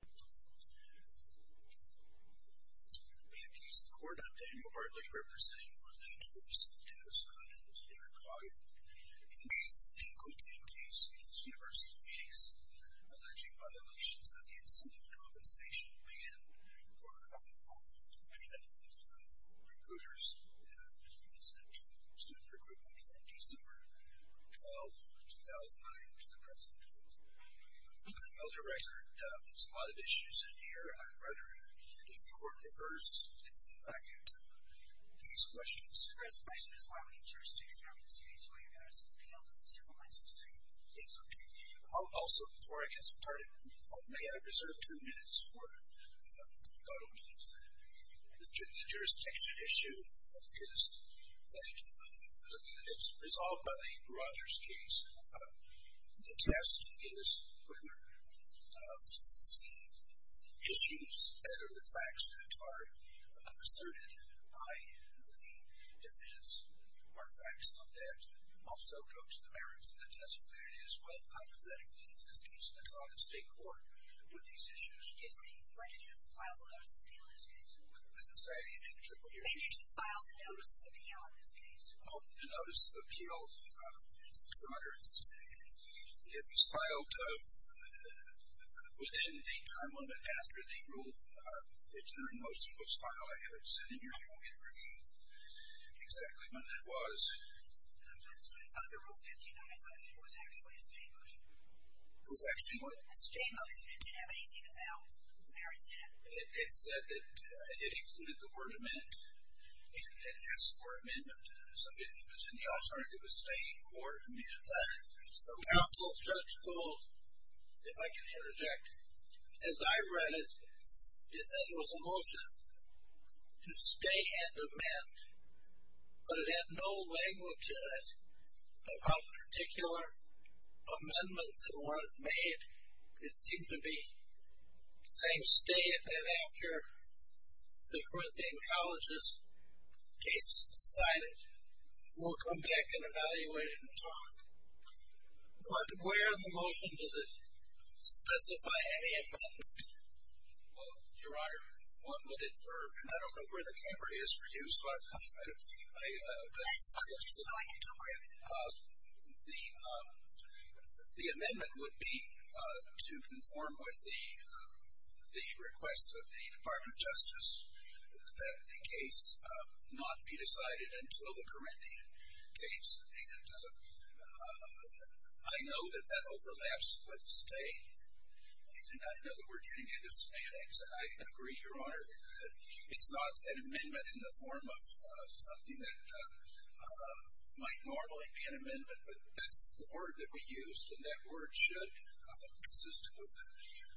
We appease the court on Daniel Bartley representing one-night tours to Arizona and to David Hoggett. He quid the incase against University of Phoenix, alleging violations of the incentive compensation ban for the payment of recruiters' incentive to student recruitment from December 12, 2009 to the present. I know the record, there's a lot of issues in here. I'd rather if the court refers back into these questions. The first question is why would a jurisdiction have this case? Why do you have this appeal? Does this have a licensee? It's okay. Also, before I get started, may I reserve two minutes for a thought on things? The jurisdiction issue is resolved by the Rogers case. The test is whether the issues that are the facts that are asserted by the defense are facts that also go to the merits. And the test for that is, well, how does that explain this case? And how does the state court put these issues? Excuse me, when did you file the notice of appeal in this case? I'm sorry, I didn't hear you. When did you file the notice of appeal in this case? The notice of appeal, Rogers, it was filed within a time limit after the rule that you're most supposed to file. I haven't seen it in your form yet. Can you exactly when that was? The rule 59 last year was actually a stay motion. Was actually what? A stay motion. It didn't have anything about merits in it. It said that it included the word amend and it asked for amendment. So it was in the alternative of stay or amend. The counsel's judge called, if I can interject, as I read it, it said it was a motion to stay and amend. But it had no language in it about particular amendments that weren't made. It seemed to be saying stay and amend after the Corinthian College's case is decided. We'll come back and evaluate it and talk. But where in the motion does it specify any amendment? Well, Your Honor, one would infer, and I don't know where the camera is for you, so I don't know. My apologies, I know I can't talk right now. The amendment would be to conform with the request of the Department of Justice that the case not be decided until the Corinthian case. And I know that that overlaps with stay. And I know that we're getting into spanics, and I agree, Your Honor, that it's not an amendment in the form of something that might normally be an amendment. But that's the word that we used, and that word should, consistent with the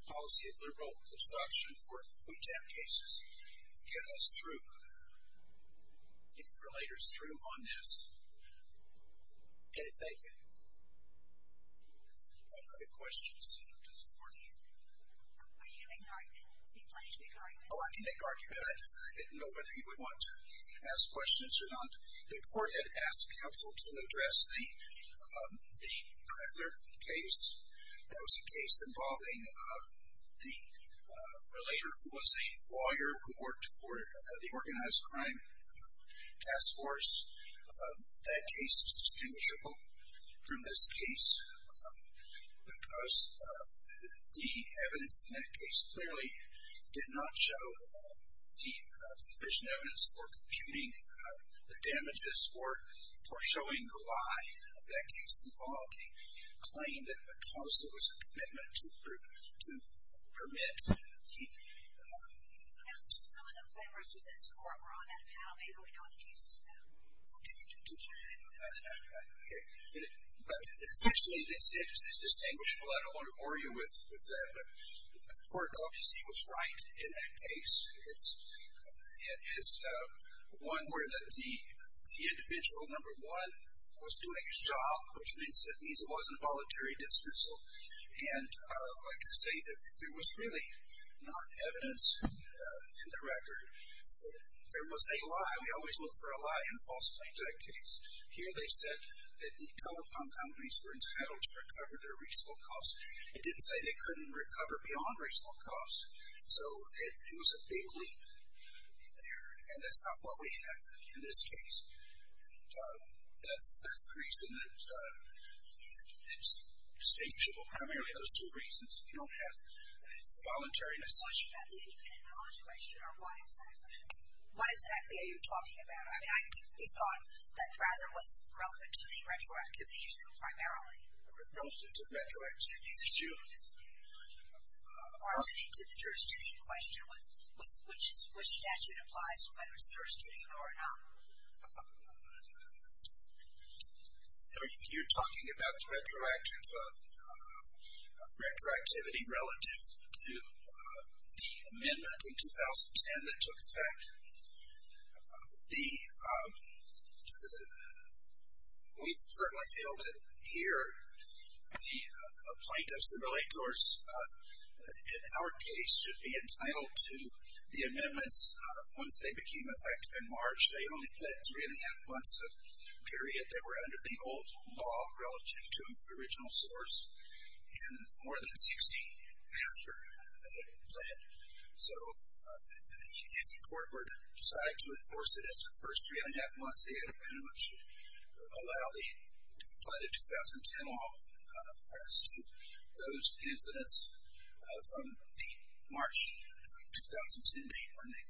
policy of liberal obstruction for boot camp cases, get us through, get the relators through on this. Okay, thank you. Are there other questions to support? Are you going to make an argument? Are you planning to make an argument? Oh, I can make an argument. I didn't know whether you would want to ask questions or not. The court had asked counsel to address the Crather case. That was a case involving the relator who was a lawyer who worked for the Organized Crime Task Force. That case is distinguishable from this case because the evidence in that case clearly did not show the sufficient evidence for computing the damages or for showing the lie of that case involved. He claimed that because there was a commitment to permit the- Some of the members of this court were on that panel. Maybe we know what the case is about. Okay. But essentially, this case is distinguishable. I don't want to bore you with that. But the court obviously was right in that case. It is one where the individual, number one, was doing his job, which means it wasn't voluntary dismissal. And like I say, there was really not evidence in the record. There was a lie. We always look for a lie in a false claim to that case. Here they said that the telecom companies were entitled to recover their reasonable costs. It didn't say they couldn't recover beyond reasonable costs. So it was a big leap there, and that's not what we have in this case. That's the reason that it's distinguishable. Primarily those two reasons. We don't have voluntariness. The question about the independent knowledge question, or why exactly? Why exactly are you talking about it? I mean, I think he thought that rather it was relevant to the retroactivity issue primarily. Relative to the retroactivity issue. Or relating to the jurisdiction question, which statute applies whether it's jurisdiction or not. You're talking about the retroactivity relative to the amendment in 2010 that took effect. We certainly feel that here the plaintiffs and relators in our case should be entitled to the amendments once they became effective in March. They only pled three and a half months of period that were under the old law relative to original source. And more than 60 after they pled. So if the court were to decide to enforce it as the first three and a half months, they should apply the 2010 law. As to those incidents from the March 2010 date when the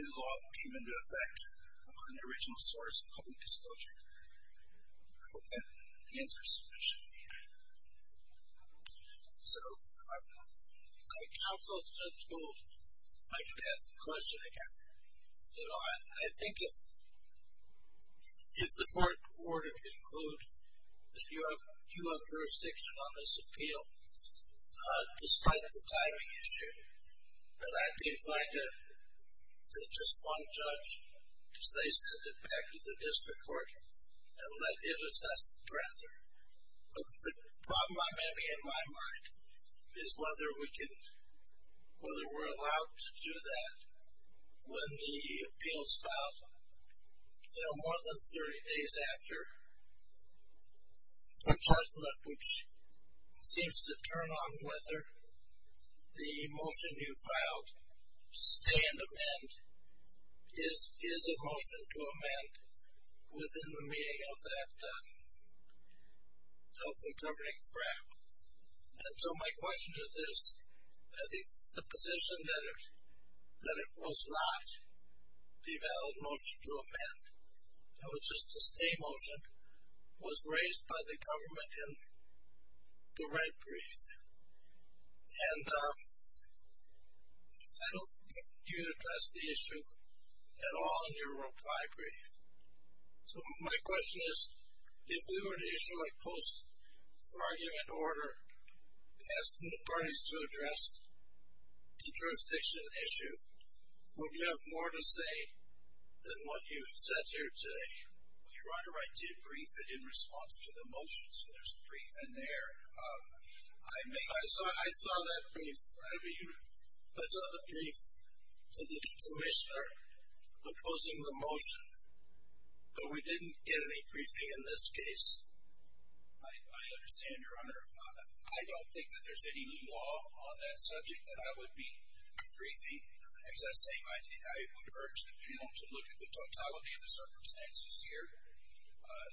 new law came into effect on the original source of public disclosure. I hope that answers your question. So I don't know. My counsel has told me I can ask the question again. I think if the court were to conclude that you have jurisdiction on this appeal, despite the timing issue, that I'd be inclined to, as just one judge, to say send it back to the district court and let it assess it further. But the problem I'm having in my mind is whether we're allowed to do that when the appeals filed more than 30 days after the judgment, which seems to turn on whether the motion you filed, stay and amend, is a motion to amend within the meaning of the governing fram. So my question is this. The position that it was not a valid motion to amend, that it was just a stay motion, was raised by the government in the red brief. And I don't think you addressed the issue at all in your reply brief. So my question is, if we were to issue a post-argument order asking the parties to address the jurisdiction issue, would you have more to say than what you've said here today? Your Honor, I did brief it in response to the motion. So there's a brief in there. I saw that brief. I saw the brief to the Commissioner opposing the motion, but we didn't get any briefing in this case. I understand, Your Honor. I don't think that there's any new law on that subject that I would be briefing. As I say, I would urge the panel to look at the totality of the circumstances here.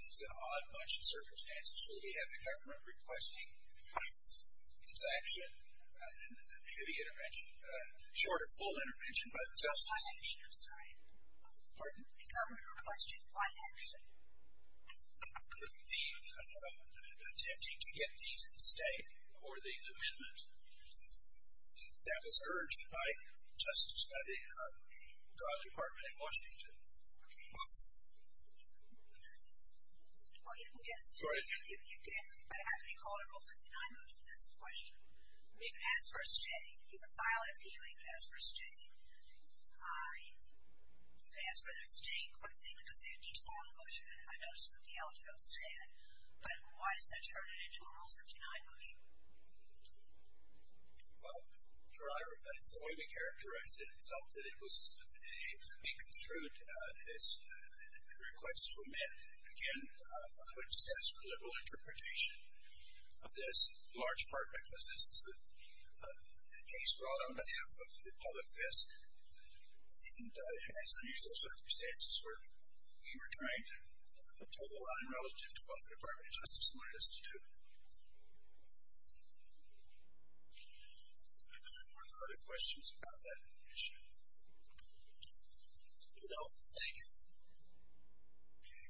It's an odd bunch of circumstances where we have the government requesting a sanction, a pity intervention, short or full intervention by the Justice. I'm sorry. Pardon? The government requesting what action? The attempting to get these to stay for the amendment. That was urged by the Department in Washington. Okay. Well, you can guess. Go ahead. You can. But how can you call a Rule 59 motion? That's the question. You can ask for a stay. You can file an appeal. You can ask for a stay. You can ask for their stay quickly because they would need to file a motion. I noticed that the elegy don't stand. But why does that turn it into a Rule 59 motion? Well, Your Honor, that's the way we characterized it. We felt that it was being construed as a request to amend. Again, I would just ask for a liberal interpretation of this, in large part because this is a case brought on behalf of the public and has unusual circumstances where we were trying to tell the line relative to what the Department of Justice wanted us to do. Are there other questions about that issue? No? Thank you. Okay.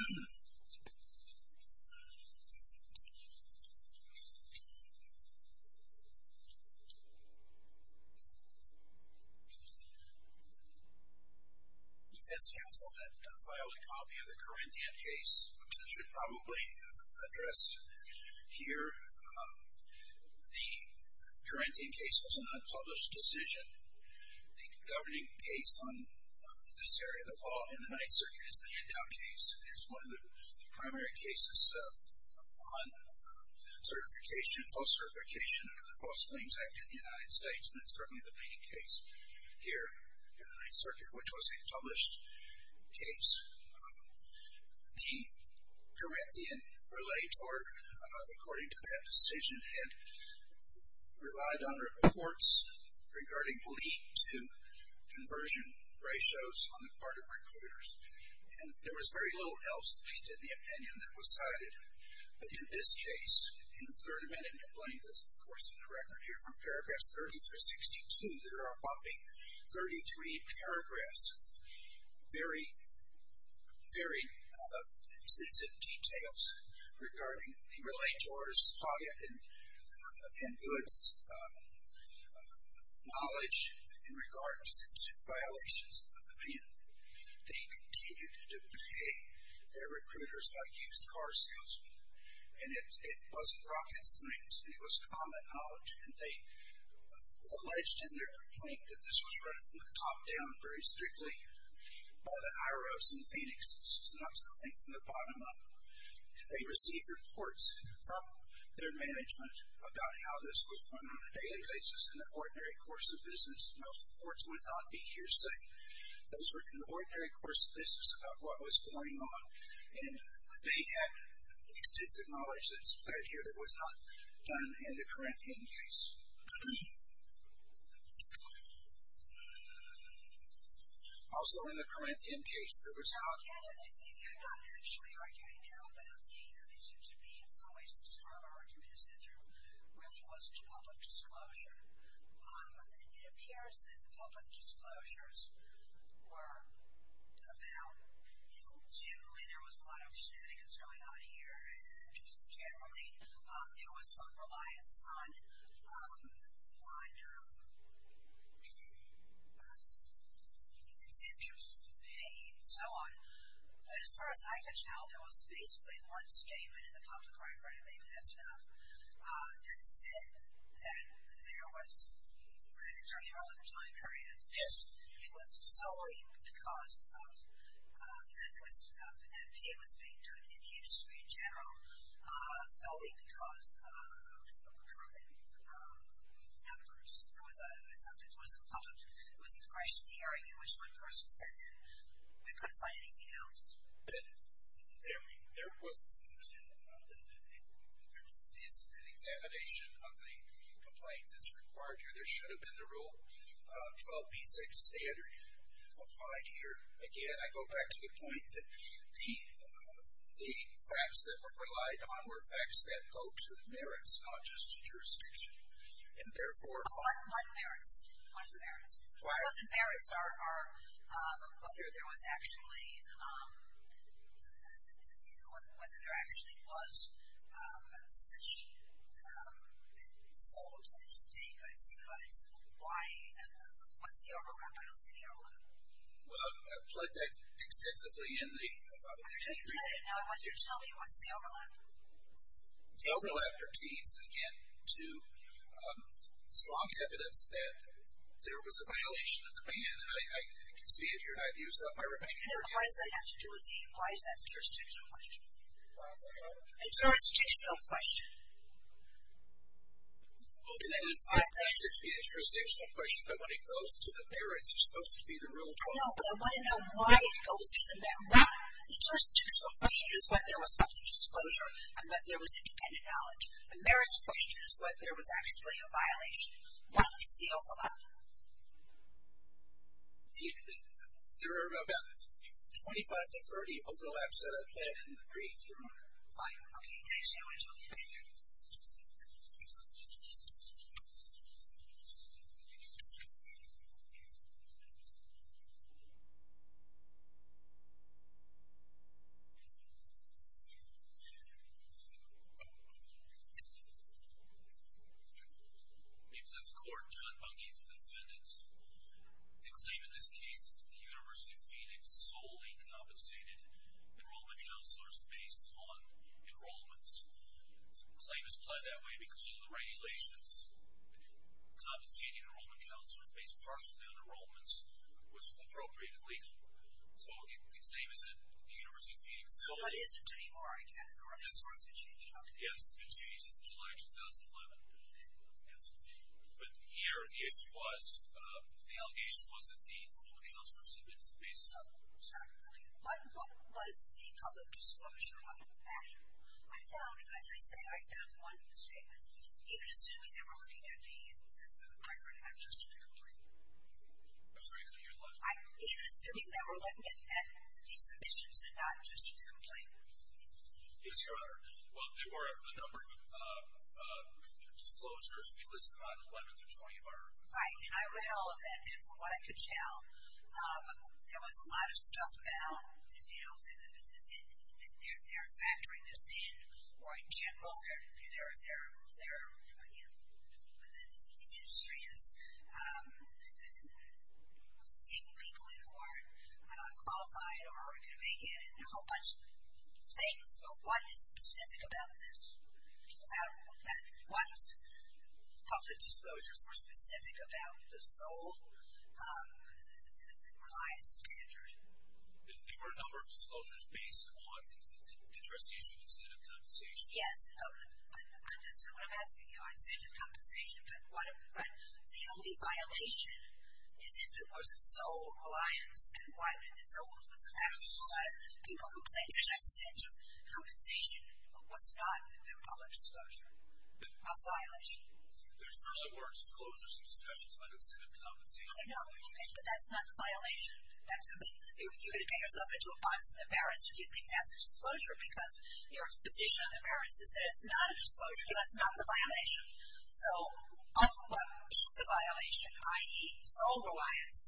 Defense counsel then filed a copy of the Corinthian case, which I should probably address here. The Corinthian case was an unpublished decision. The governing case on this area, the law in the Ninth Circuit, is the handout case. It's one of the primary cases on certification, false certification under the False Claims Act in the United States, and it's certainly the main case here in the Ninth Circuit, which was a published case. The Corinthian relay tort, according to that decision, had relied on reports regarding lead to conversion ratios on the part of recruiters. And there was very little else, at least in the opinion, that was cited. But in this case, in the third amendment, and you'll find this, of course, in the record here from paragraphs 30 through 62, there are a whopping 33 paragraphs. Very, very extensive details regarding the relay tort's fault in goods, knowledge in regards to violations of the ban. They continued to pay their recruiters like used car salesmen. And it wasn't rocket science. It was common knowledge. And they alleged in their complaint that this was run from the top down very strictly by the IROs in Phoenix. This is not something from the bottom up. They received reports from their management about how this was run on a daily basis in the ordinary course of business. Most reports would not be hearsay. Those were in the ordinary course of business about what was going on. And they had extensive knowledge that's played here that was not done in the Corinthian case. Also in the Corinthian case, there was not. You're not actually arguing now about the, it seems to me in some ways the stronger argument is that there really wasn't public disclosure. It appears that the public disclosures were about, you know, generally there was a lot of shenanigans going on here, and generally there was some reliance on incentives to pay and so on. But as far as I could tell, there was basically one statement in the public record, and maybe that's enough, that said that there was, during a relevant time period, this was solely because of, and it was being done in the industry in general, solely because of the Corinthian numbers. There was a public, there was a congressional hearing in which one person said that they couldn't find anything else. There was, there is an examination of the complaint that's required here. There should have been the Rule 12b6 standard applied here. Again, I go back to the point that the facts that were relied on were facts that go to the merits, not just to jurisdiction. And therefore, What merits? What are the merits? Why? The merits are whether there was actually, whether there actually was such, so such a thing. But why, what's the overlap? I don't see the overlap. Well, I've played that extensively in the, I'm sure you've heard it now, I want you to tell me what's the overlap. The overlap pertains, again, to strong evidence that there was a violation of the ban, and I can see it here. I've used up my remaining time. And what does that have to do with the, why is that a jurisdictional question? A jurisdictional question. Well, that is, that's not supposed to be a jurisdictional question, but when it goes to the merits, it's supposed to be the real problem. No, but I want to know why it goes to the merits. Why? The jurisdictional question is whether there was public disclosure and that there was independent knowledge. The merits question is whether there was actually a violation. What is the overlap? There are about 25 to 30 overlaps that I've had in the brief. The claim is pled that way because of the regulations. Compensating enrollment counselors based partially on enrollments was appropriated legally. So the claim is that the University of Phoenix sold it. But is it anymore, I get it. Or has it been changed? Yes, it's been changed since July 2011. But here, the issue was, the allegation was that the enrollment counselor submits So, what was the public disclosure on that matter? I found, as I say, I found one misstatement. Even assuming they were looking at the migrant have just a complaint. I'm sorry, could you repeat that? Even assuming they were looking at the submissions and not just the complaint. Yes, Your Honor. Well, there were a number of disclosures. We listed on 11 through 20 of our. Right, and I read all of that. And from what I could tell, there was a lot of stuff about, you know, they're factoring this in or in general. They're, you know, the industry is taking people in who aren't qualified or are going to make it and a whole bunch of things. But what is specific about this? What public disclosures were specific about the sole client standard? There were a number of disclosures based on the interest issue of incentive compensation. Yes. And that's not what I'm asking you, incentive compensation. But the only violation is if it was a sole client environment. So, what's the fact that a lot of people who claim to have public disclosure? What's the violation? There's a number of disclosures and discussions about incentive compensation. I know, but that's not the violation. You're going to get yourself into a box and embarrass. Do you think that's a disclosure? Because your position on the merits is that it's not a disclosure. That's not the violation. So, what is the violation? I.e., sole reliance.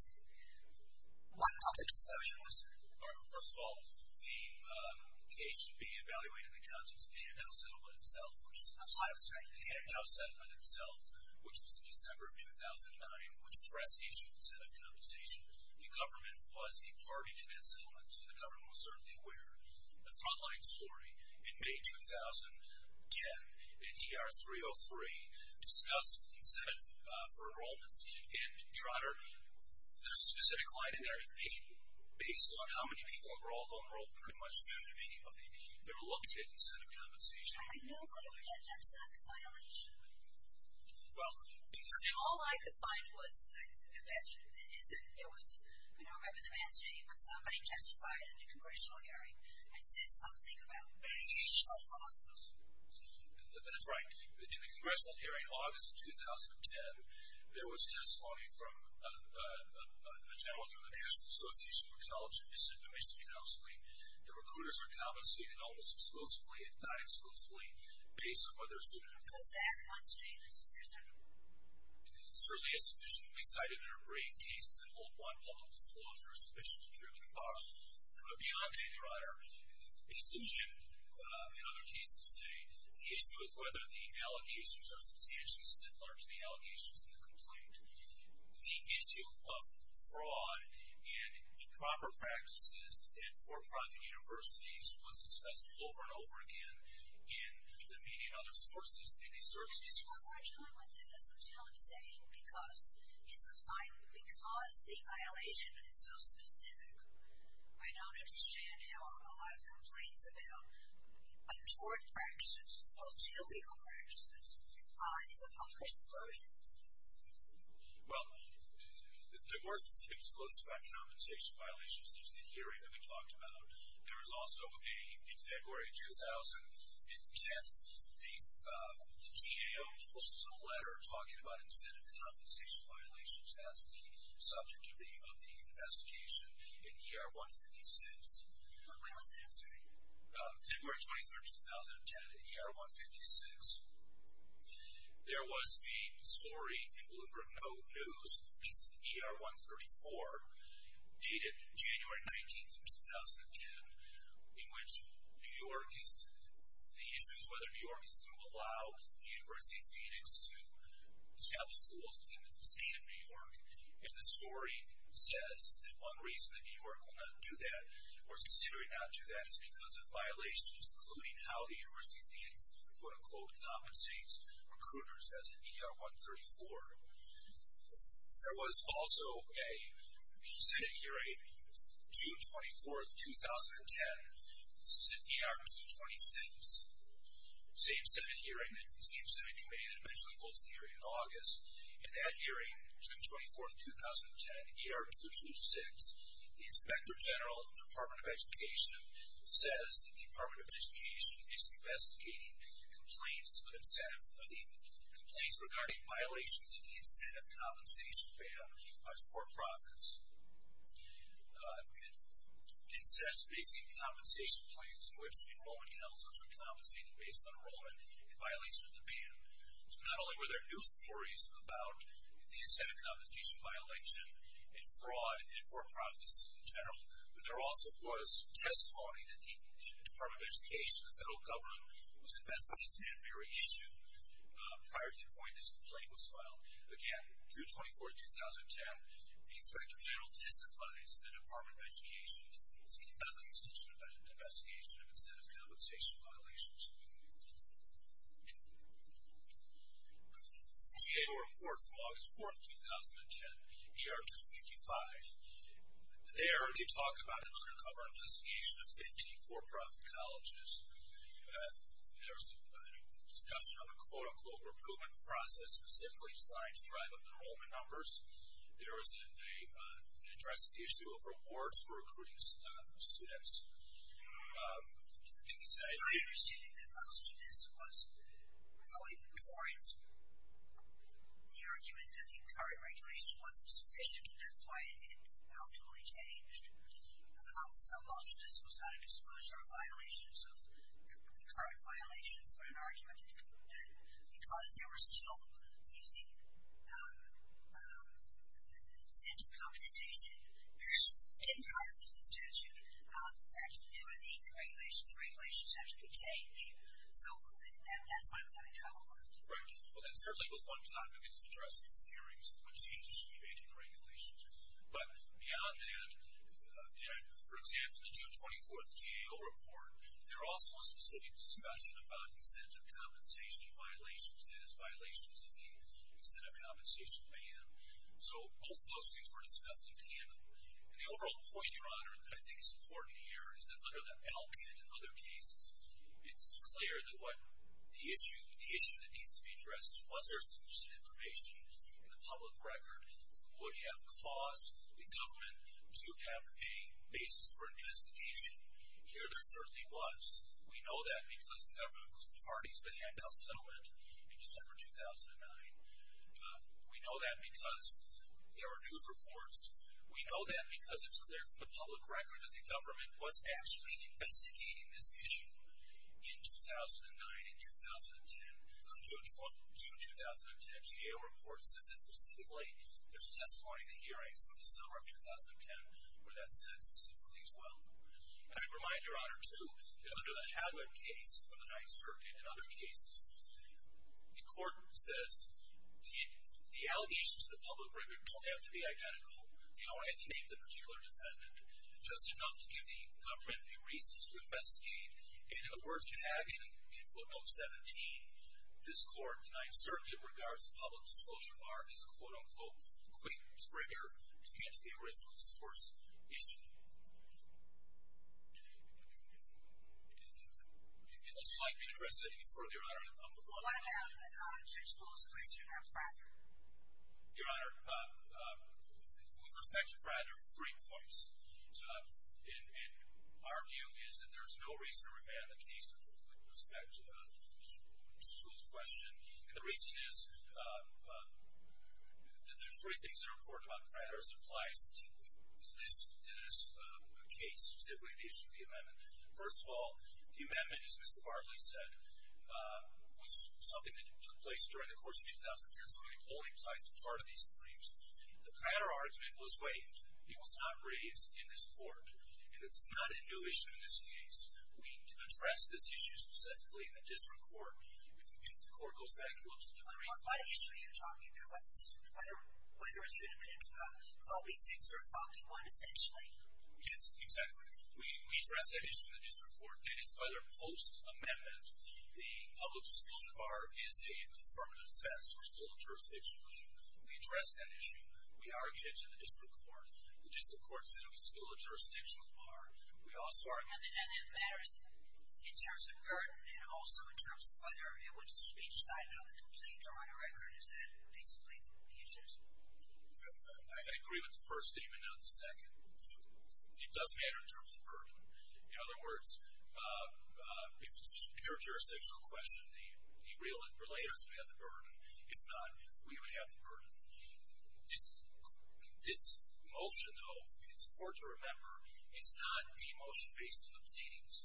What public disclosures? First of all, the case should be evaluated in the context of the handout settlement itself. I'm sorry. The handout settlement itself, which was in December of 2009, which addressed the issue of incentive compensation. The government was a party to that settlement, so the government was certainly aware. The frontline story, in May 2010, an ER 303 discussed incentive for enrollments. And, Your Honor, the specific client in there, based on how many people were all enrolled, pretty much found that many of them were located in incentive compensation. I know, but that's not the violation. Well. See, all I could find was the question is that there was, I don't remember the man's name, but somebody testified in the Congressional hearing and said something about being a show-off. That's right. In the Congressional hearing, August of 2010, there was testimony from a gentleman from the National Association for College Admission Counseling. The recruiters are compensated almost exclusively, if not exclusively, based on whether a student... It goes back one statement. Yes, sir. It certainly is sufficiently cited in a brief case to hold one public disclosure sufficiently true to the law. But beyond that, Your Honor, exclusion in other cases say the issue is whether the allegations are substantially similar to the allegations in the complaint. The issue of fraud and improper practices at for-profit universities was discussed over and over again in the media and other sources, and they certainly... One more time, I did have something I wanted to say, because it's a fine... Because the violation is so specific, I don't understand how a lot of complaints about untoward practices as opposed to illegal practices is a public disclosure. Well, the worst disclosures about compensation violations is the hearing that we talked about. There was also a... In February 2010, the DAO published a letter talking about incentive compensation violations. That's the subject of the investigation in ER 156. When was that? February 23, 2010, at ER 156. There was the story in Bloomberg News, ER 134, dated January 19, 2010, in which New York is... The issue is whether New York is going to allow the University of Phoenix to establish schools within the state of New York. And the story says that one reason that New York will not do that or is considering not to do that is because of violations including how the University of Phoenix quote-unquote compensates recruiters as in ER 134. There was also a Senate hearing June 24, 2010. This is at ER 226. Same Senate hearing, same Senate committee that eventually holds the hearing in August. In that hearing, June 24, 2010, ER 226, the Inspector General of the Department of Education says that the Department of Education is investigating complaints regarding violations of the incentive compensation ban by for-profits. It insists that they see compensation plans in which enrollment counselors are compensated based on enrollment in violation of the ban. So not only were there news stories about the incentive compensation violation and fraud in for-profits in general, but there also was testimony that the Department of Education, the federal government, was investigating that very issue prior to the point this complaint was filed. Again, June 24, 2010, the Inspector General testifies that the Department of Education is conducting such an investigation of incentive compensation violations. GAO report from August 4, 2010, ER 255. There, they talk about an undercover investigation of 15 for-profit colleges. There was a discussion of a, quote-unquote, recruitment process specifically designed to drive up enrollment numbers. There was an interest issue of rewards for recruiting students. I understand that most of this was going towards the argument that the current regulation wasn't sufficient, and that's why it ultimately changed. So most of this was not a disclosure of violations of the current violations, but an argument that because there were still using incentive compensation in part of the statute, there were the regulations, the regulations actually changed. So that's what I'm having trouble with. Right. Well, that certainly was one plan that was addressed in these hearings, was a change that should be made to the regulations. But beyond that, for example, the June 24th GAO report, there also was specific discussion about incentive compensation violations, that is, violations of the incentive compensation ban. So both of those things were discussed in candor. And the overall point, Your Honor, that I think is important here is that under the ELC and in other cases, it's clear that what the issue, the issue that needs to be addressed was there sufficient information in the public record that would have caused the government to have a basis for investigation. Here there certainly was. We know that because there were parties that had no settlement in December 2009. We know that because there were news reports. We know that because it's clear from the public record that the government was actually investigating this issue in 2009 and 2010. The June 2010 GAO report says that specifically there's testimony in the hearings for the summer of 2010 where that's said specifically as well. And I'd remind Your Honor, too, that under the Hagler case from the 9th Circuit and other cases, the court says the allegations to the public record don't have to be identical. They don't have to name the particular defendant. Just enough to give the government a reason to investigate. And in the words of Hagley in footnote 17, this court denies certainty in regards to public disclosure or is a quote-unquote quick trigger to get to the original source issue. Unless you'd like me to address anything further, Your Honor, I'm going to move on. What about Judge Bull's position on Fryder? Your Honor, with respect to Fryder, three points. And our view is that there's no reason to remand the case with respect to Judge Bull's question. And the reason is that there's three things that are important about Fryder as it applies to this case, specifically the issue of the amendment. First of all, the amendment, as Mr. Barley said, was something that took place during the course of 2010, so it only applies to part of these claims. The Fryder argument was waived. It was not raised in this court. And it's not a new issue in this case. We address this issue specifically in the district court. If the court goes back and looks at the brief... What issue are you talking about? Whether it's a fall v. 6 or fall v. 1, essentially? Yes, exactly. We address that issue in the district court. It is by their post amendment. The public disclosure bar is a affirmative defense. We're still a jurisdictional issue. We address that issue. We argue it in the district court. The district court said it was still a jurisdictional bar. We also argue... And it matters in terms of burden and also in terms of whether it would be decided on the complete or on a record. Is that basically the issue? I agree with the first statement, not the second. It does matter in terms of burden. In other words, if it's a pure jurisdictional question, the relators would have the burden. If not, we would have the burden. This motion, though, it's important to remember, is not a motion based on the pleadings.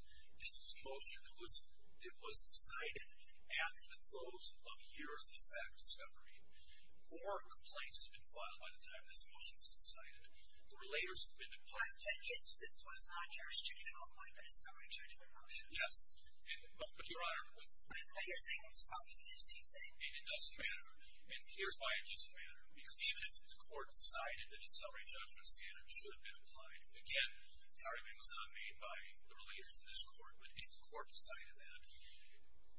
This was a motion that was decided after the close of years of fact discovery. Four complaints have been filed by the time this motion was decided. The relators have been... This was not jurisdictional, but a summary judgment motion? Yes. Your Honor... Are you saying it was published in the same thing? It doesn't matter. Here's why it doesn't matter. Even if the court decided that a summary judgment standard should have been applied, again, the argument was not made by the relators in this court, but if the court decided that,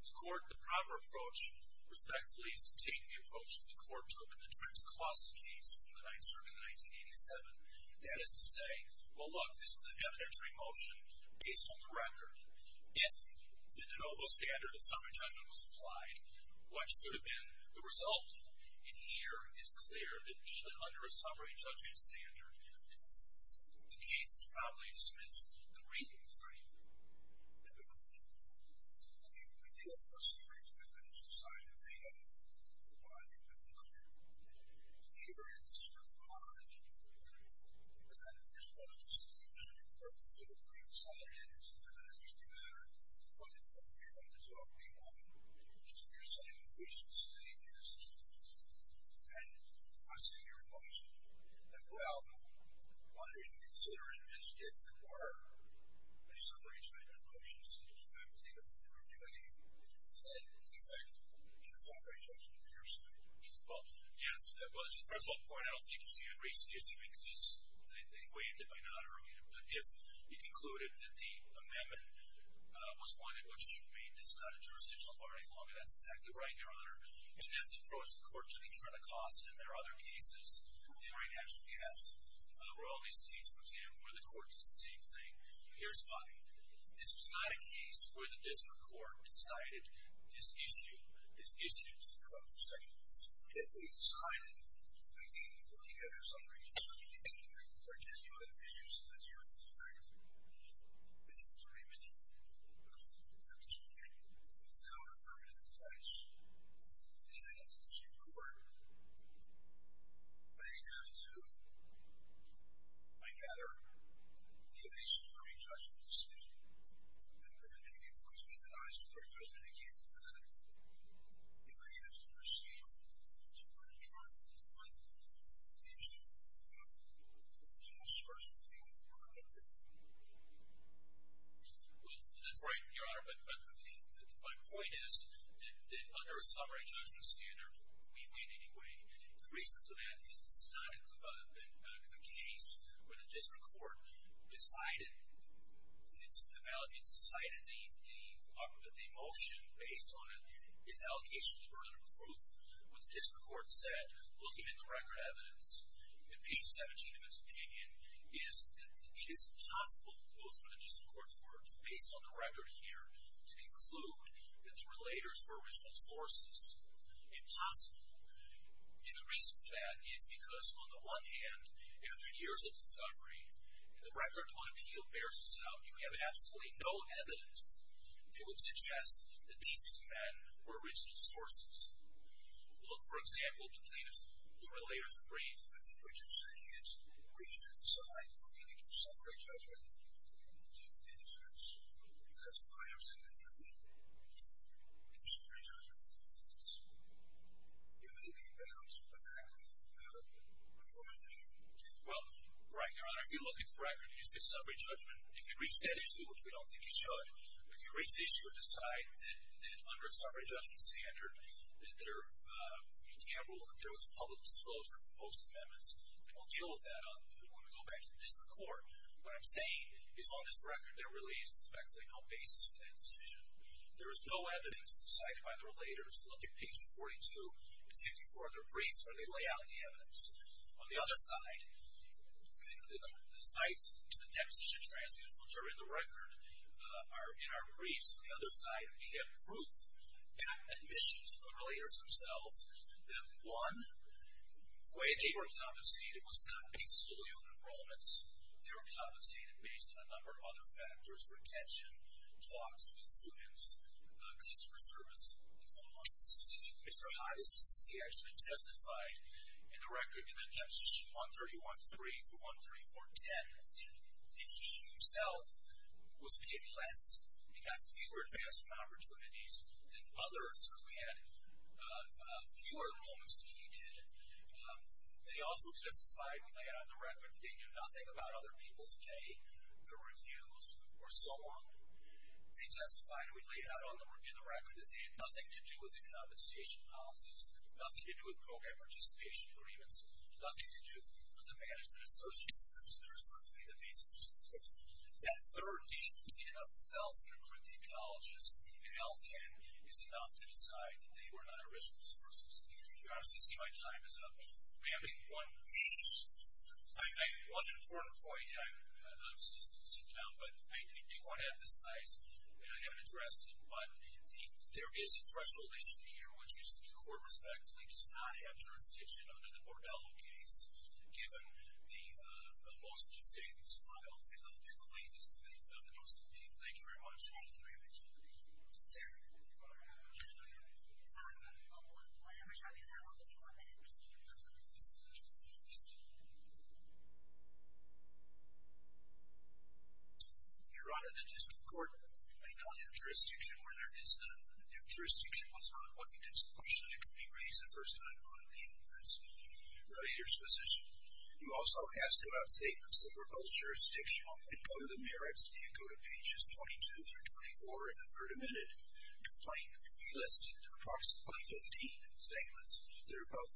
the court, the proper approach, respectfully, is to take the approach of the court to open the trip to Colossal Caves from the 9th Circuit in 1987. That is to say, well, look, this is an evidentiary motion based on the record. If the de novo standard of summary judgment was applied, what should have been the result? And here, it's clear that even under a summary judgment standard, the case is probably dismissed. The reason is, I mean, at least we deal, of course, with the exercise of data provided by the court. Here, it's not. It's not. You're supposed to see the court's decision. It doesn't actually matter. But, from your point of view, you're saying, we should say, and I see your emotion, that, well, why don't you consider it as if it were a summary judgment motion since we have data from the refuting and, in effect, a summary judgment of your side? Well, yes, that was the first point. I don't think you see it as a recent issue because they waived it by not approving it. But if you concluded that the amendment was one in which you made this not a jurisdictional bar any longer, that's exactly right, Your Honor. In this approach, the courts are going to try to cost, and there are other cases they might actually pass. Royalty's case, for example, where the court does the same thing. Here's why. This was not a case where the district court decided this issue to be brought to the district court. If we decide making a summary judgment for genuine issues that are in effect within 30 minutes of the district court is now affirmative in effect and I have the district court may have to by gather give a summary judgment decision and then maybe it will just be denied if it's a summary judgment again. You may have to proceed to an adjournment point if there's a discursive thing that's going on in there. Well, that's right, Your Honor. But my point is that under a summary judgment standard we win anyway. The reason for that is this is not a case where the district court decided it's decided and the motion based on it is allocation of the burden of proof. What the district court said looking at the record evidence in page 17 of its opinion is that it is impossible most of the district court's words based on the record here to conclude that the relators were original sources. Impossible. And the reason for that is because on the one hand after years of discovery the record on appeal bears this out. You have absolutely no evidence that would suggest that these two men were original sources. Look, for example, the plaintiff's relator's brief. I think what you're saying is the reason it's decided would be to give summary judgment to defendants that's why I'm saying that you need to give summary judgment to defendants. You may be in bounds, but that could be a formality. Well, right, Your Honor. If you look at the record and you say summary judgment if you reach that issue, which we don't think you should if you reach the issue and decide that under a summary judgment standard that there was a public disclosure for both amendments, we'll deal with that when we go back to the district court. What I'm saying is on this record there really is no basis for that decision. There is no evidence cited by the relators looking at page 42 and 54 of their briefs where they lay out the evidence. On the other side the sites, the deposition transcripts which are in the record are in our briefs. On the other side we have proof that admissions from the relators themselves that one way they were compensated was not based solely on enrollments. They were compensated based on a number of other factors, retention, talks with students, customer service, and so on. Mr. Hottis here has been justified in the deposition 131-3 through 134-10 that he himself was paid less and got fewer advancement opportunities than others who had fewer enrollments than he did. They also testified we lay out on the record that they knew nothing about other people's pay, their reviews, or so on. They testified we lay out on the record that they had nothing to do with program participation agreements, nothing to do with the management association groups that are certainly the basis. That third piece in and of itself in recruiting colleges in L-10 is enough to decide that they were not original sources. You can obviously see my time is up. May I make one important point and I'm not supposed to sit down but I do want to emphasize that I haven't addressed it but there is a threshold issue here which is the court respectfully does not have jurisdiction under the Bordello case given the most of the statements filed and the claims of the most of the people. Thank you very much. Your Honor, the district court may not have jurisdiction where there is jurisdiction was not a question that could be raised the first time on the relator's position. You also have to out statements that were both jurisdictional and go to the merits if you go to pages 22 through 24 in the third amended complaint. We listed approximately 15 segments that are both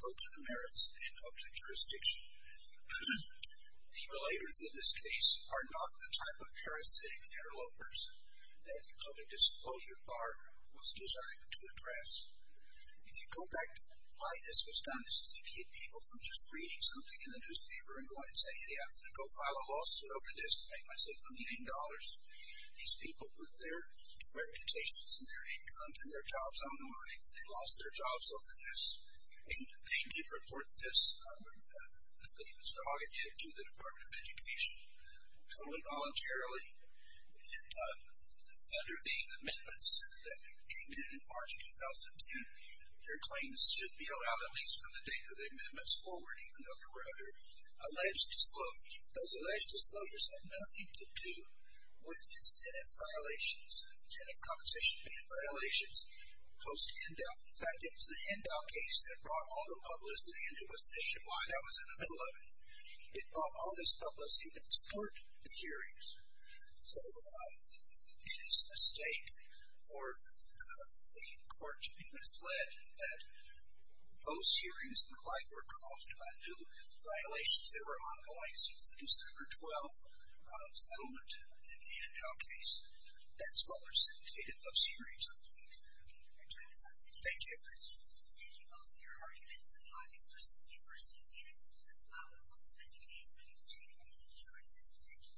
go to the merits and up to jurisdiction. The relators in this case are not the type of parasitic interlopers that the disclosure bar was designed to address. If you go back to why this was done this is to keep people from just reading something in the newspaper and going and saying hey I'm going to go file a lawsuit over this and make myself a million dollars. These people put their reputations and their income and their jobs on the line. They lost their jobs over this and they did report this to the Department of Education totally voluntarily and under the amendments that came in in March of 2002 their claims should be owed out at least from the date of the amendments forward even though there were other alleged disclosures. Those alleged disclosures had nothing to do with incentive violations, incentive compensation violations post handout. In fact it was the handout case that brought all the publicity and it was nationwide. I was in the middle of it. It brought all this publicity and it spurred the hearings. So it is a stake for the court to be misled that those hearings look like were caused by new violations that were ongoing since the December 12th settlement in the handout case. That's what precipitated those hearings. Thank you. Thank you both for your arguments. Thank you. Thank you. Thank you.